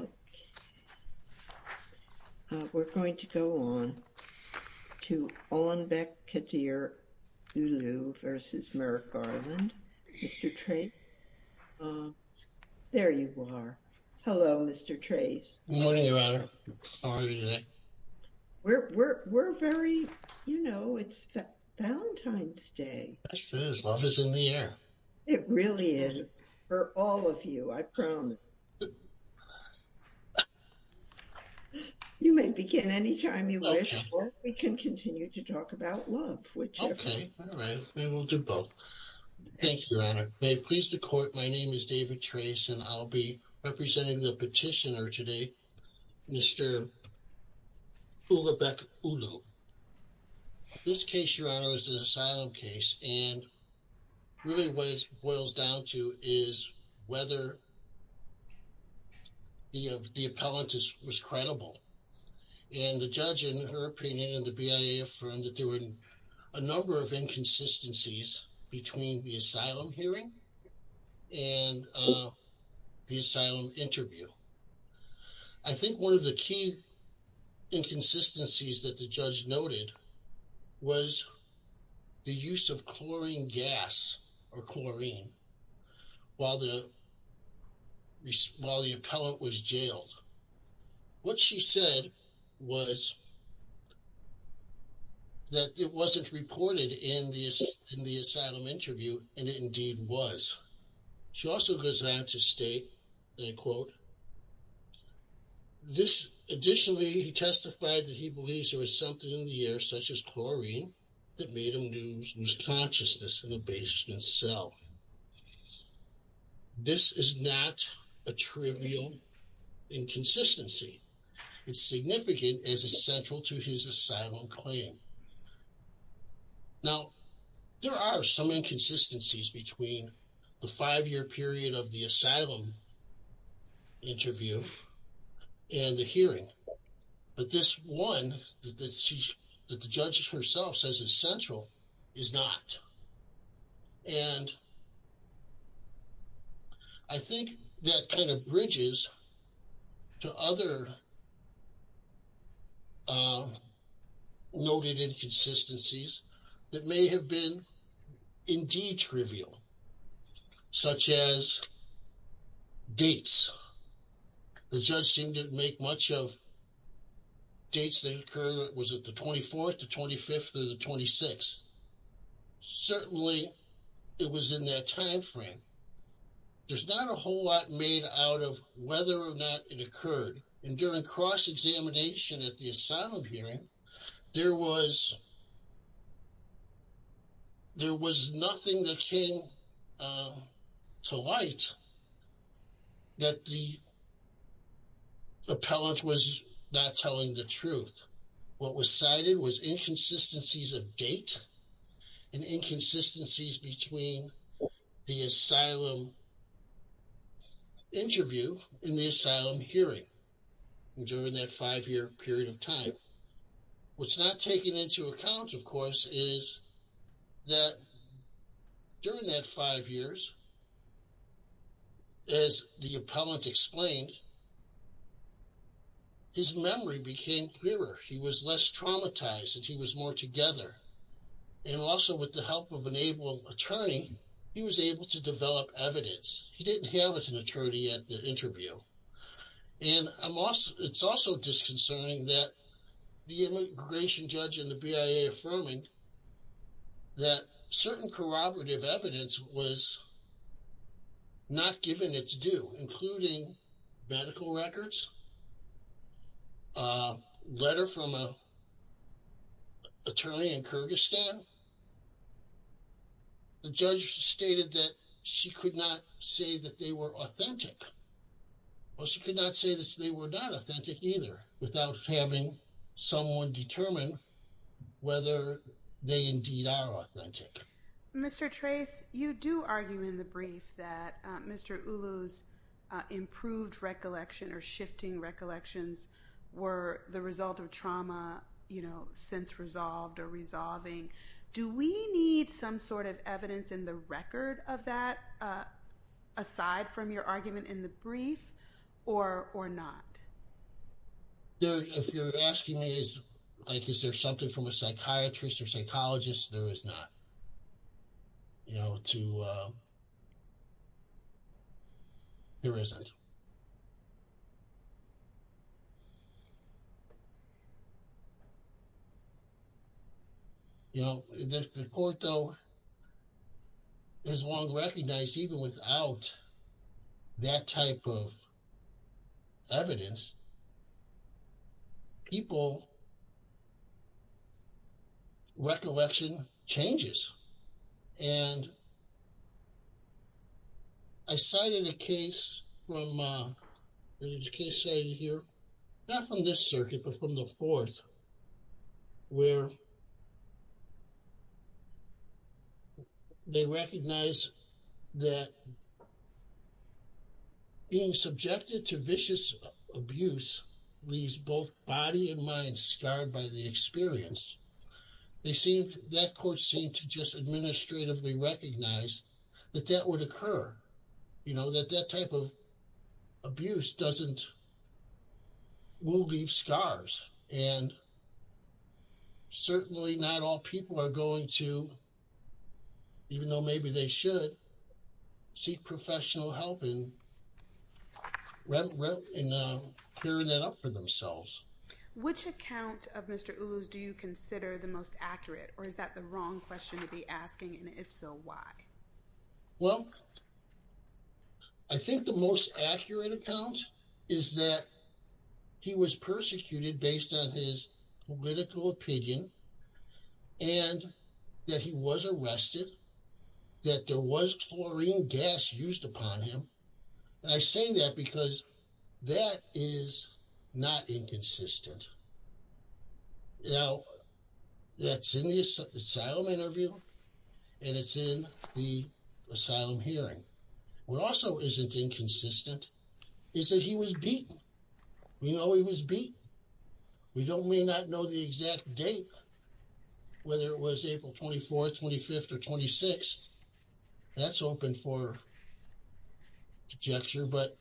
Okay, we're going to go on to Ulanbek Kadyr Uulu v. Merrick Garland. Mr. Trace, there you are. Hello, Mr. Trace. Good morning, Your Honor. How are you today? We're very, you know, it's Valentine's Day. It is. Love is in the air. It really is for all of you, I promise. You may begin any time you wish, or we can continue to talk about love. Okay, all right. We will do both. Thank you, Your Honor. May it please the Court, my name is David Trace, and I'll be representing the petitioner today, Mr. Ulanbek Ulu. This case, Your Honor, is an asylum case, and really what it boils down to is whether the appellant was credible. And the judge, in her opinion, and the BIA affirmed that there were a number of inconsistencies between the asylum hearing and the asylum interview. I think one of the key inconsistencies that the judge noted was the use of chlorine gas, or chlorine, while the appellant was jailed. What she said was that it wasn't reported in the asylum interview, and it indeed was. She also goes on to state, and I quote, Additionally, he testified that he believes there was something in the air, such as chlorine, that made him lose consciousness in the basement cell. This is not a trivial inconsistency. It's significant as it's central to his asylum claim. Now, there are some inconsistencies between the five-year period of the asylum interview and the hearing, but this one that the judge herself says is central is not. And I think that kind of bridges to other noted inconsistencies that may have been indeed trivial, such as dates. The judge seemed to make much of dates that occurred. Was it the 24th, the 25th, or the 26th? Certainly, it was in that timeframe. There's not a whole lot made out of whether or not it occurred. And during cross-examination at the asylum hearing, there was nothing that came to light that the appellant was not telling the truth. What was cited was inconsistencies of date and inconsistencies between the asylum interview and the asylum hearing during that five-year period of time. What's not taken into account, of course, is that during that five years, as the appellant explained, his memory became clearer. He was less traumatized and he was more together. And also, with the help of an able attorney, he was able to develop evidence. He didn't have an attorney at the interview. And it's also disconcerting that the immigration judge and the BIA affirming that certain corroborative evidence was not given its due, including medical records, a letter from an attorney in Kyrgyzstan. The judge stated that she could not say that they were authentic. Well, she could not say that they were not authentic either without having someone determine whether they indeed are authentic. Mr. Trace, you do argue in the brief that Mr. Ulu's improved recollection or shifting recollections were the result of trauma, you know, since resolved or resolving. Do we need some sort of evidence in the record of that aside from your argument in the brief or not? If you're asking me, is there something from a psychiatrist or psychologist, there is not. You know, there isn't. You know, the court, though, has long recognized even without that type of evidence, people recollection changes. And I cited a case from here, not from this circuit, but from the fourth, where they recognize that being subjected to vicious abuse leaves both body and mind scarred by the experience. They seem that court seemed to just administratively recognize that that would occur, you know, that that type of abuse doesn't leave scars. And certainly not all people are going to, even though maybe they should seek professional help in clearing that up for themselves. Which account of Mr. Ulu's do you consider the most accurate or is that the wrong question to be asking? And if so, why? Well, I think the most accurate account is that he was persecuted based on his political opinion and that he was arrested, that there was chlorine gas used upon him. And I say that because that is not inconsistent. Now, that's in the asylum interview and it's in the asylum hearing. What also isn't inconsistent is that he was beaten. We know he was beaten. We may not know the exact date, whether it was April 24th, 25th or 26th. That's open for projection, but...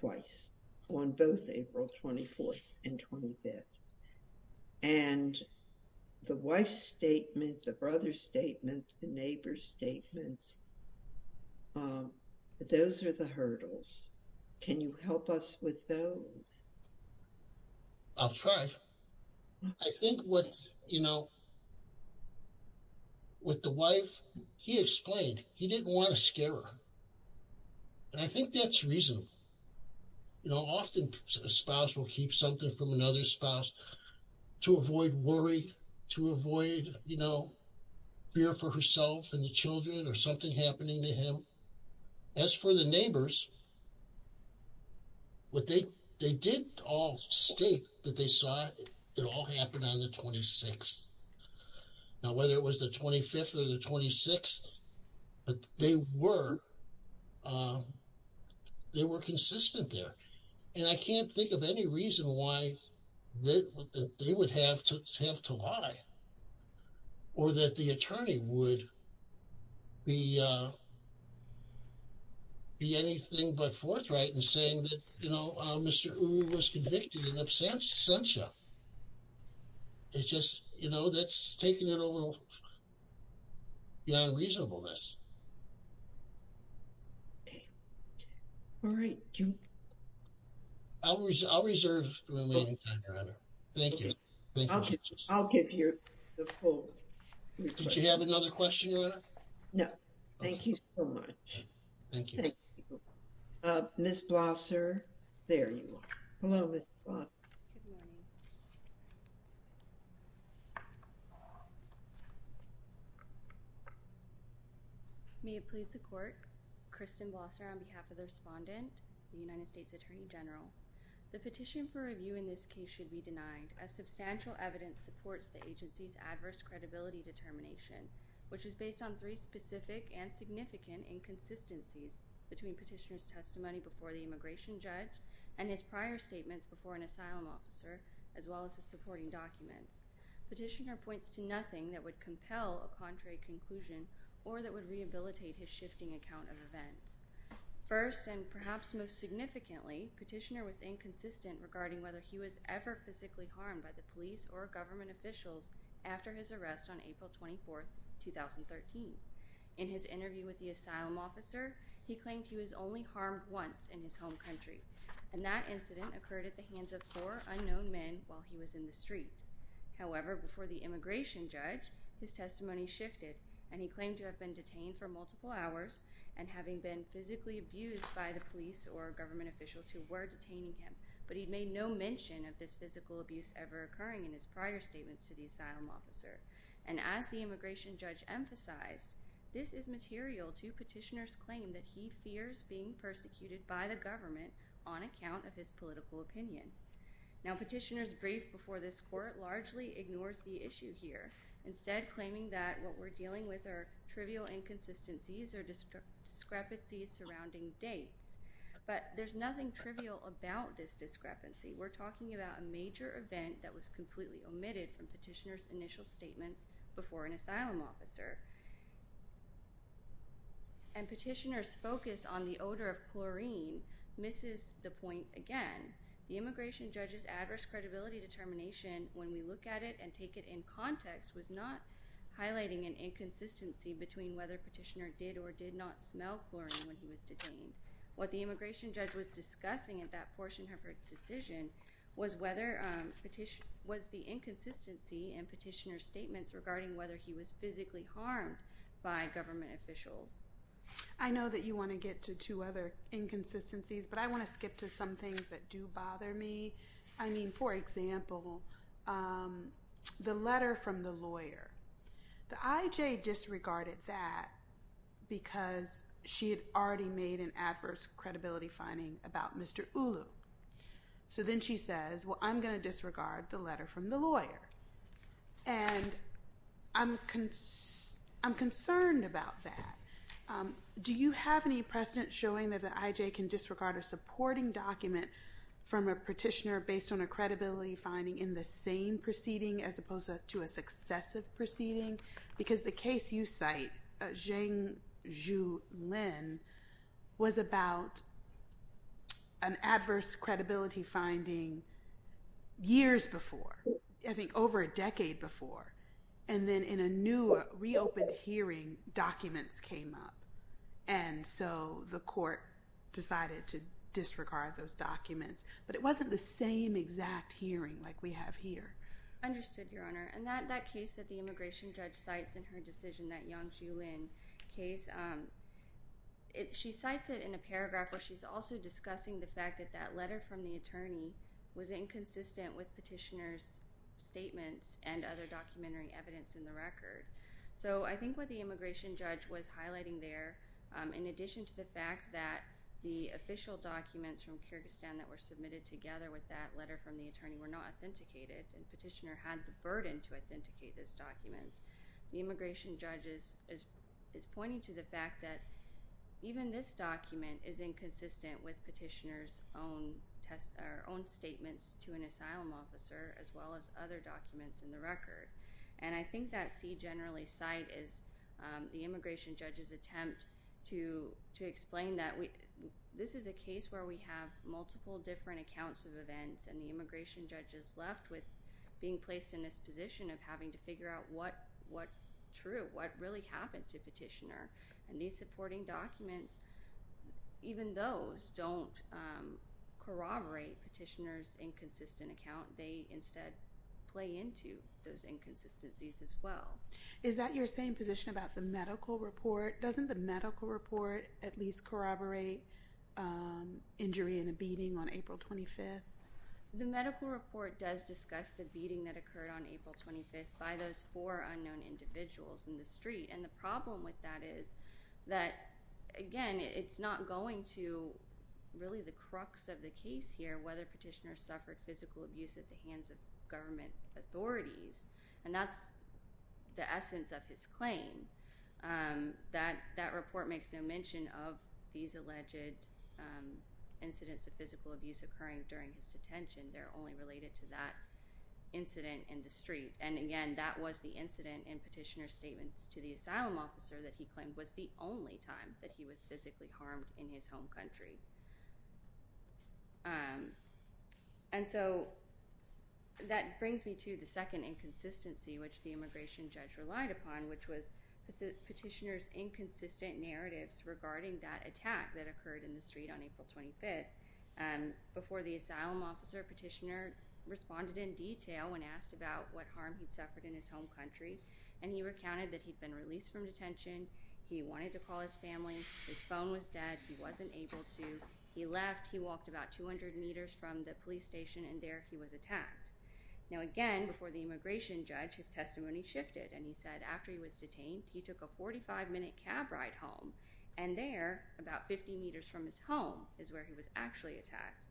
Twice, on both April 24th and 25th. And the wife's statement, the brother's statement, the neighbor's statements, those are the hurdles. Can you help us with those? I'll try. I think what, you know, with the wife, he explained he didn't want to scare her. And I think that's reasonable. You know, often a spouse will keep something from another spouse to avoid worry, to avoid, you know, fear for herself and the children or something happening to him. As for the neighbors, what they did all state that they saw, it all happened on the 26th. Now, whether it was the 25th or the 26th, they were consistent there. And I can't think of any reason why they would have to lie or that the attorney would be anything but forthright in saying that, you know, Mr. Uri was convicted in absentia. It's just, you know, that's taking it a little beyond reasonableness. Okay. All right. I'll reserve the remaining time, Your Honor. Thank you. I'll give you the full... Did you have another question, Your Honor? No. Thank you so much. Thank you. Thank you. Ms. Blosser, there you are. Hello, Ms. Blosser. Good morning. May it please the Court, Kristen Blosser on behalf of the respondent, the United States Attorney General. The petition for review in this case should be denied, as substantial evidence supports the agency's adverse credibility determination, which is based on three specific and significant inconsistencies between petitioner's testimony before the immigration judge and his prior statements before an asylum officer, as well as his supporting documents. Petitioner points to nothing that would compel a contrary conclusion or that would rehabilitate his shifting account of events. First, and perhaps most significantly, petitioner was inconsistent regarding whether he was ever physically harmed by the police or government officials after his arrest on April 24, 2013. In his interview with the asylum officer, he claimed he was only harmed once in his home country, and that incident occurred at the hands of four unknown men while he was in the street. However, before the immigration judge, his testimony shifted, and he claimed to have been detained for multiple hours and having been physically abused by the police or government officials who were detaining him, but he made no mention of this physical abuse ever occurring in his prior statements to the asylum officer. And as the immigration judge emphasized, this is material to petitioner's claim that he fears being persecuted by the government on account of his political opinion. Now, petitioner's brief before this Court largely ignores the issue here, instead claiming that what we're dealing with are trivial inconsistencies or discrepancies surrounding dates. But there's nothing trivial about this discrepancy. We're talking about a major event that was completely omitted from petitioner's initial statements before an asylum officer. And petitioner's focus on the odor of chlorine misses the point again. The immigration judge's adverse credibility determination, when we look at it and take it in context, was not highlighting an inconsistency between whether petitioner did or did not smell chlorine when he was detained. What the immigration judge was discussing in that portion of her decision was the inconsistency in petitioner's statements regarding whether he was physically harmed by government officials. I know that you want to get to two other inconsistencies, but I want to skip to some things that do bother me. I mean, for example, the letter from the lawyer. The IJ disregarded that because she had already made an adverse credibility finding about Mr. Ulu. So then she says, well, I'm going to disregard the letter from the lawyer. And I'm concerned about that. Do you have any precedent showing that the IJ can disregard a supporting document from a petitioner based on a credibility finding in the same proceeding as opposed to a successive proceeding? Because the case you cite, Zheng Zhu Lin, was about an adverse credibility finding years before. I think over a decade before. And then in a new reopened hearing, documents came up. And so the court decided to disregard those documents. But it wasn't the same exact hearing like we have here. Understood, Your Honor. And that case that the immigration judge cites in her decision, that Zheng Zhu Lin case, she cites it in a paragraph where she's also discussing the fact that that letter from the attorney was inconsistent with petitioner's statements and other documentary evidence in the record. So I think what the immigration judge was highlighting there, in addition to the fact that the official documents from Kyrgyzstan that were submitted together with that letter from the attorney were not authenticated, and the petitioner had the burden to authenticate those documents, the immigration judge is pointing to the fact that even this document is inconsistent with petitioner's own statements to an asylum officer as well as other documents in the record. And I think that C generally cite is the immigration judge's attempt to explain that this is a case where we have multiple different accounts of events, and the immigration judge is left with being placed in this position of having to figure out what's true, what really happened to petitioner. And these supporting documents, even those don't corroborate petitioner's inconsistent account. They instead play into those inconsistencies as well. Is that your same position about the medical report? Doesn't the medical report at least corroborate injury in a beating on April 25th? The medical report does discuss the beating that occurred on April 25th by those four unknown individuals in the street. And the problem with that is that, again, it's not going to really the crux of the case here whether petitioner suffered physical abuse at the hands of government authorities, and that's the essence of his claim. That report makes no mention of these alleged incidents of physical abuse occurring during his detention. They're only related to that incident in the street. And, again, that was the incident in petitioner's statements to the asylum officer that he claimed was the only time that he was physically harmed in his home country. And so that brings me to the second inconsistency which the immigration judge relied upon, which was petitioner's inconsistent narratives regarding that attack that occurred in the street on April 25th. Before the asylum officer, petitioner responded in detail when asked about what harm he'd suffered in his home country, and he recounted that he'd been released from detention. He wanted to call his family. His phone was dead. He wasn't able to. He left. He walked about 200 meters from the police station, and there he was attacked. Now, again, before the immigration judge, his testimony shifted, and he said after he was detained he took a 45-minute cab ride home, and there, about 50 meters from his home, is where he was actually attacked.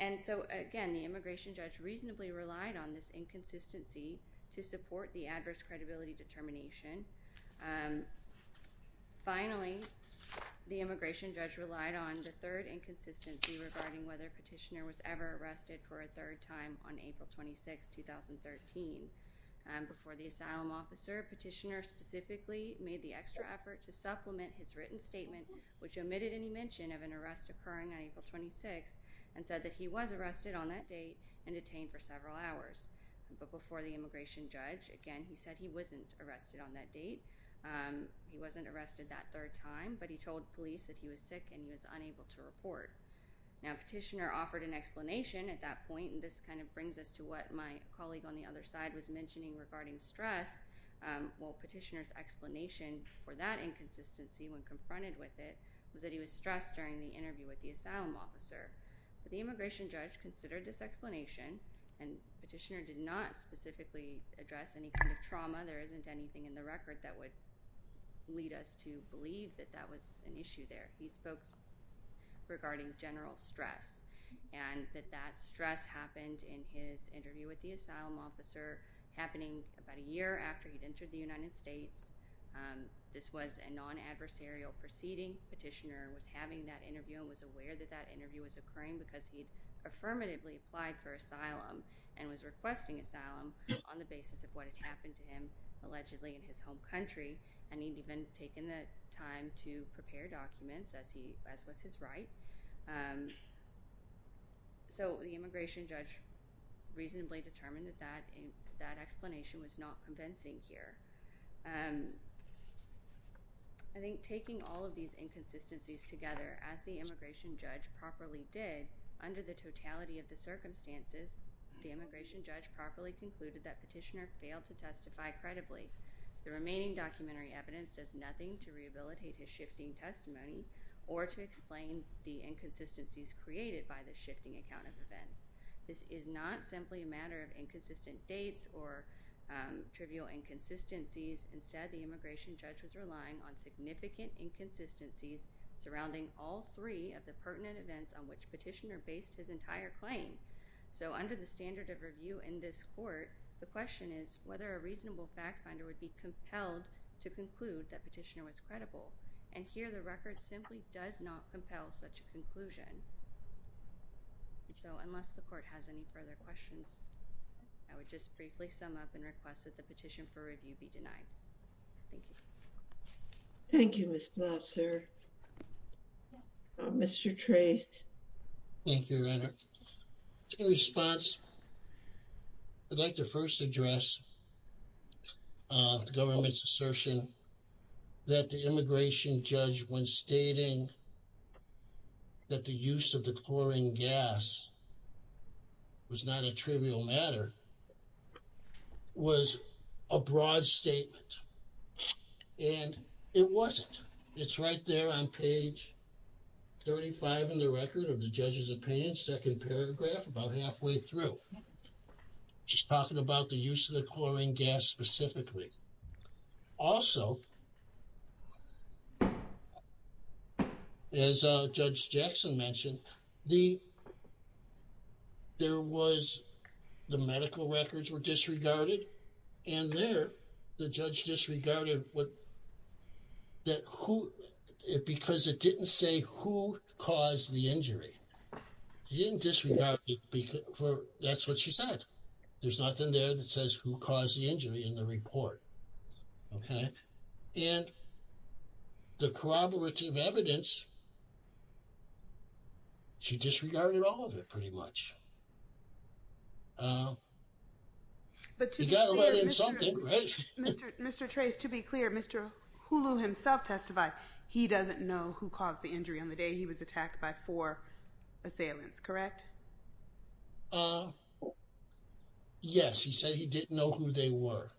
And so, again, the immigration judge reasonably relied on this inconsistency to support the adverse credibility determination. Finally, the immigration judge relied on the third inconsistency regarding whether petitioner was ever arrested for a third time on April 26, 2013. Before the asylum officer, petitioner specifically made the extra effort to supplement his written statement, which omitted any mention of an arrest occurring on April 26, and said that he was arrested on that date and detained for several hours. But before the immigration judge, again, he said he wasn't arrested on that date. He wasn't arrested that third time, but he told police that he was sick and he was unable to report. Now, petitioner offered an explanation at that point, and this kind of brings us to what my colleague on the other side was mentioning regarding stress. Well, petitioner's explanation for that inconsistency when confronted with it was that he was stressed during the interview with the asylum officer. But the immigration judge considered this explanation, and petitioner did not specifically address any kind of trauma. There isn't anything in the record that would lead us to believe that that was an issue there. He spoke regarding general stress, and that that stress happened in his interview with the asylum officer, happening about a year after he'd entered the United States. This was a non-adversarial proceeding. Petitioner was having that interview and was aware that that interview was occurring because he'd affirmatively applied for asylum and was requesting asylum on the basis of what had happened to him, as was his right. So the immigration judge reasonably determined that that explanation was not convincing here. I think taking all of these inconsistencies together, as the immigration judge properly did, under the totality of the circumstances, the immigration judge properly concluded that petitioner failed to testify credibly. The remaining documentary evidence does nothing to rehabilitate his shifting testimony or to explain the inconsistencies created by the shifting account of events. This is not simply a matter of inconsistent dates or trivial inconsistencies. Instead, the immigration judge was relying on significant inconsistencies surrounding all three of the pertinent events on which petitioner based his entire claim. So under the standard of review in this court, the question is whether a reasonable fact finder would be compelled to conclude that petitioner was credible. And here the record simply does not compel such a conclusion. So unless the court has any further questions, I would just briefly sum up and request that the petition for review be denied. Thank you. Thank you, Ms. Blatt, sir. Mr. Traist. Thank you, Your Honor. In response, I'd like to first address the government's assertion that the immigration judge, when stating that the use of the chlorine gas was not a trivial matter, was a broad statement. And it wasn't. It's right there on page 35 in the record of the judge's opinion, second paragraph, about halfway through. She's talking about the use of the chlorine gas specifically. Also, as Judge Jackson mentioned, there was the medical records were disregarded. And there, the judge disregarded it because it didn't say who caused the injury. She didn't disregard it because that's what she said. There's nothing there that says who caused the injury in the report. And the corroborative evidence, she disregarded all of it pretty much. But you've got to let in something, right? Mr. Traist, to be clear, Mr. Hulu himself testified he doesn't know who caused the injury on the day he was attacked by four assailants, correct? Yes. He said he didn't know who they were,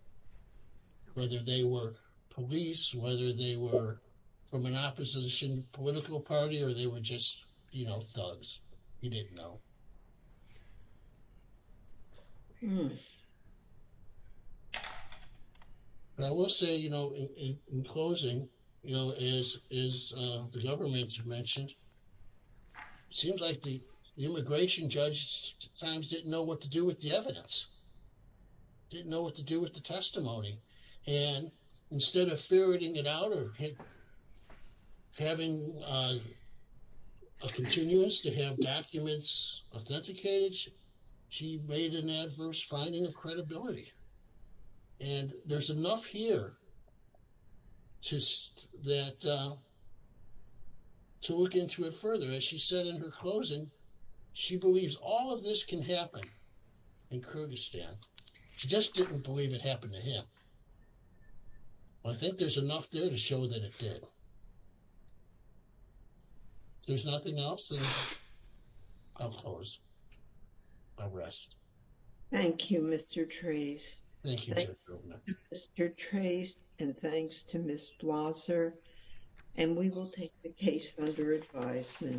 whether they were police, whether they were from an opposition political party, or they were just, you know, thugs. He didn't know. But I will say, you know, in closing, you know, as the government has mentioned, it seems like the immigration judge sometimes didn't know what to do with the evidence, didn't know what to do with the testimony. And instead of ferreting it out or having a continuance to have documents authenticated, she made an adverse finding of credibility. And there's enough here to look into it further. As she said in her closing, she believes all of this can happen in Kurdistan. She just didn't believe it happened to him. I think there's enough there to show that it did. If there's nothing else, then I'll close. I'll rest. Thank you, Mr. Traist. Thank you, Judge Goldman. Thank you, Mr. Traist, and thanks to Ms. Blosser. And we will take the case under advisement.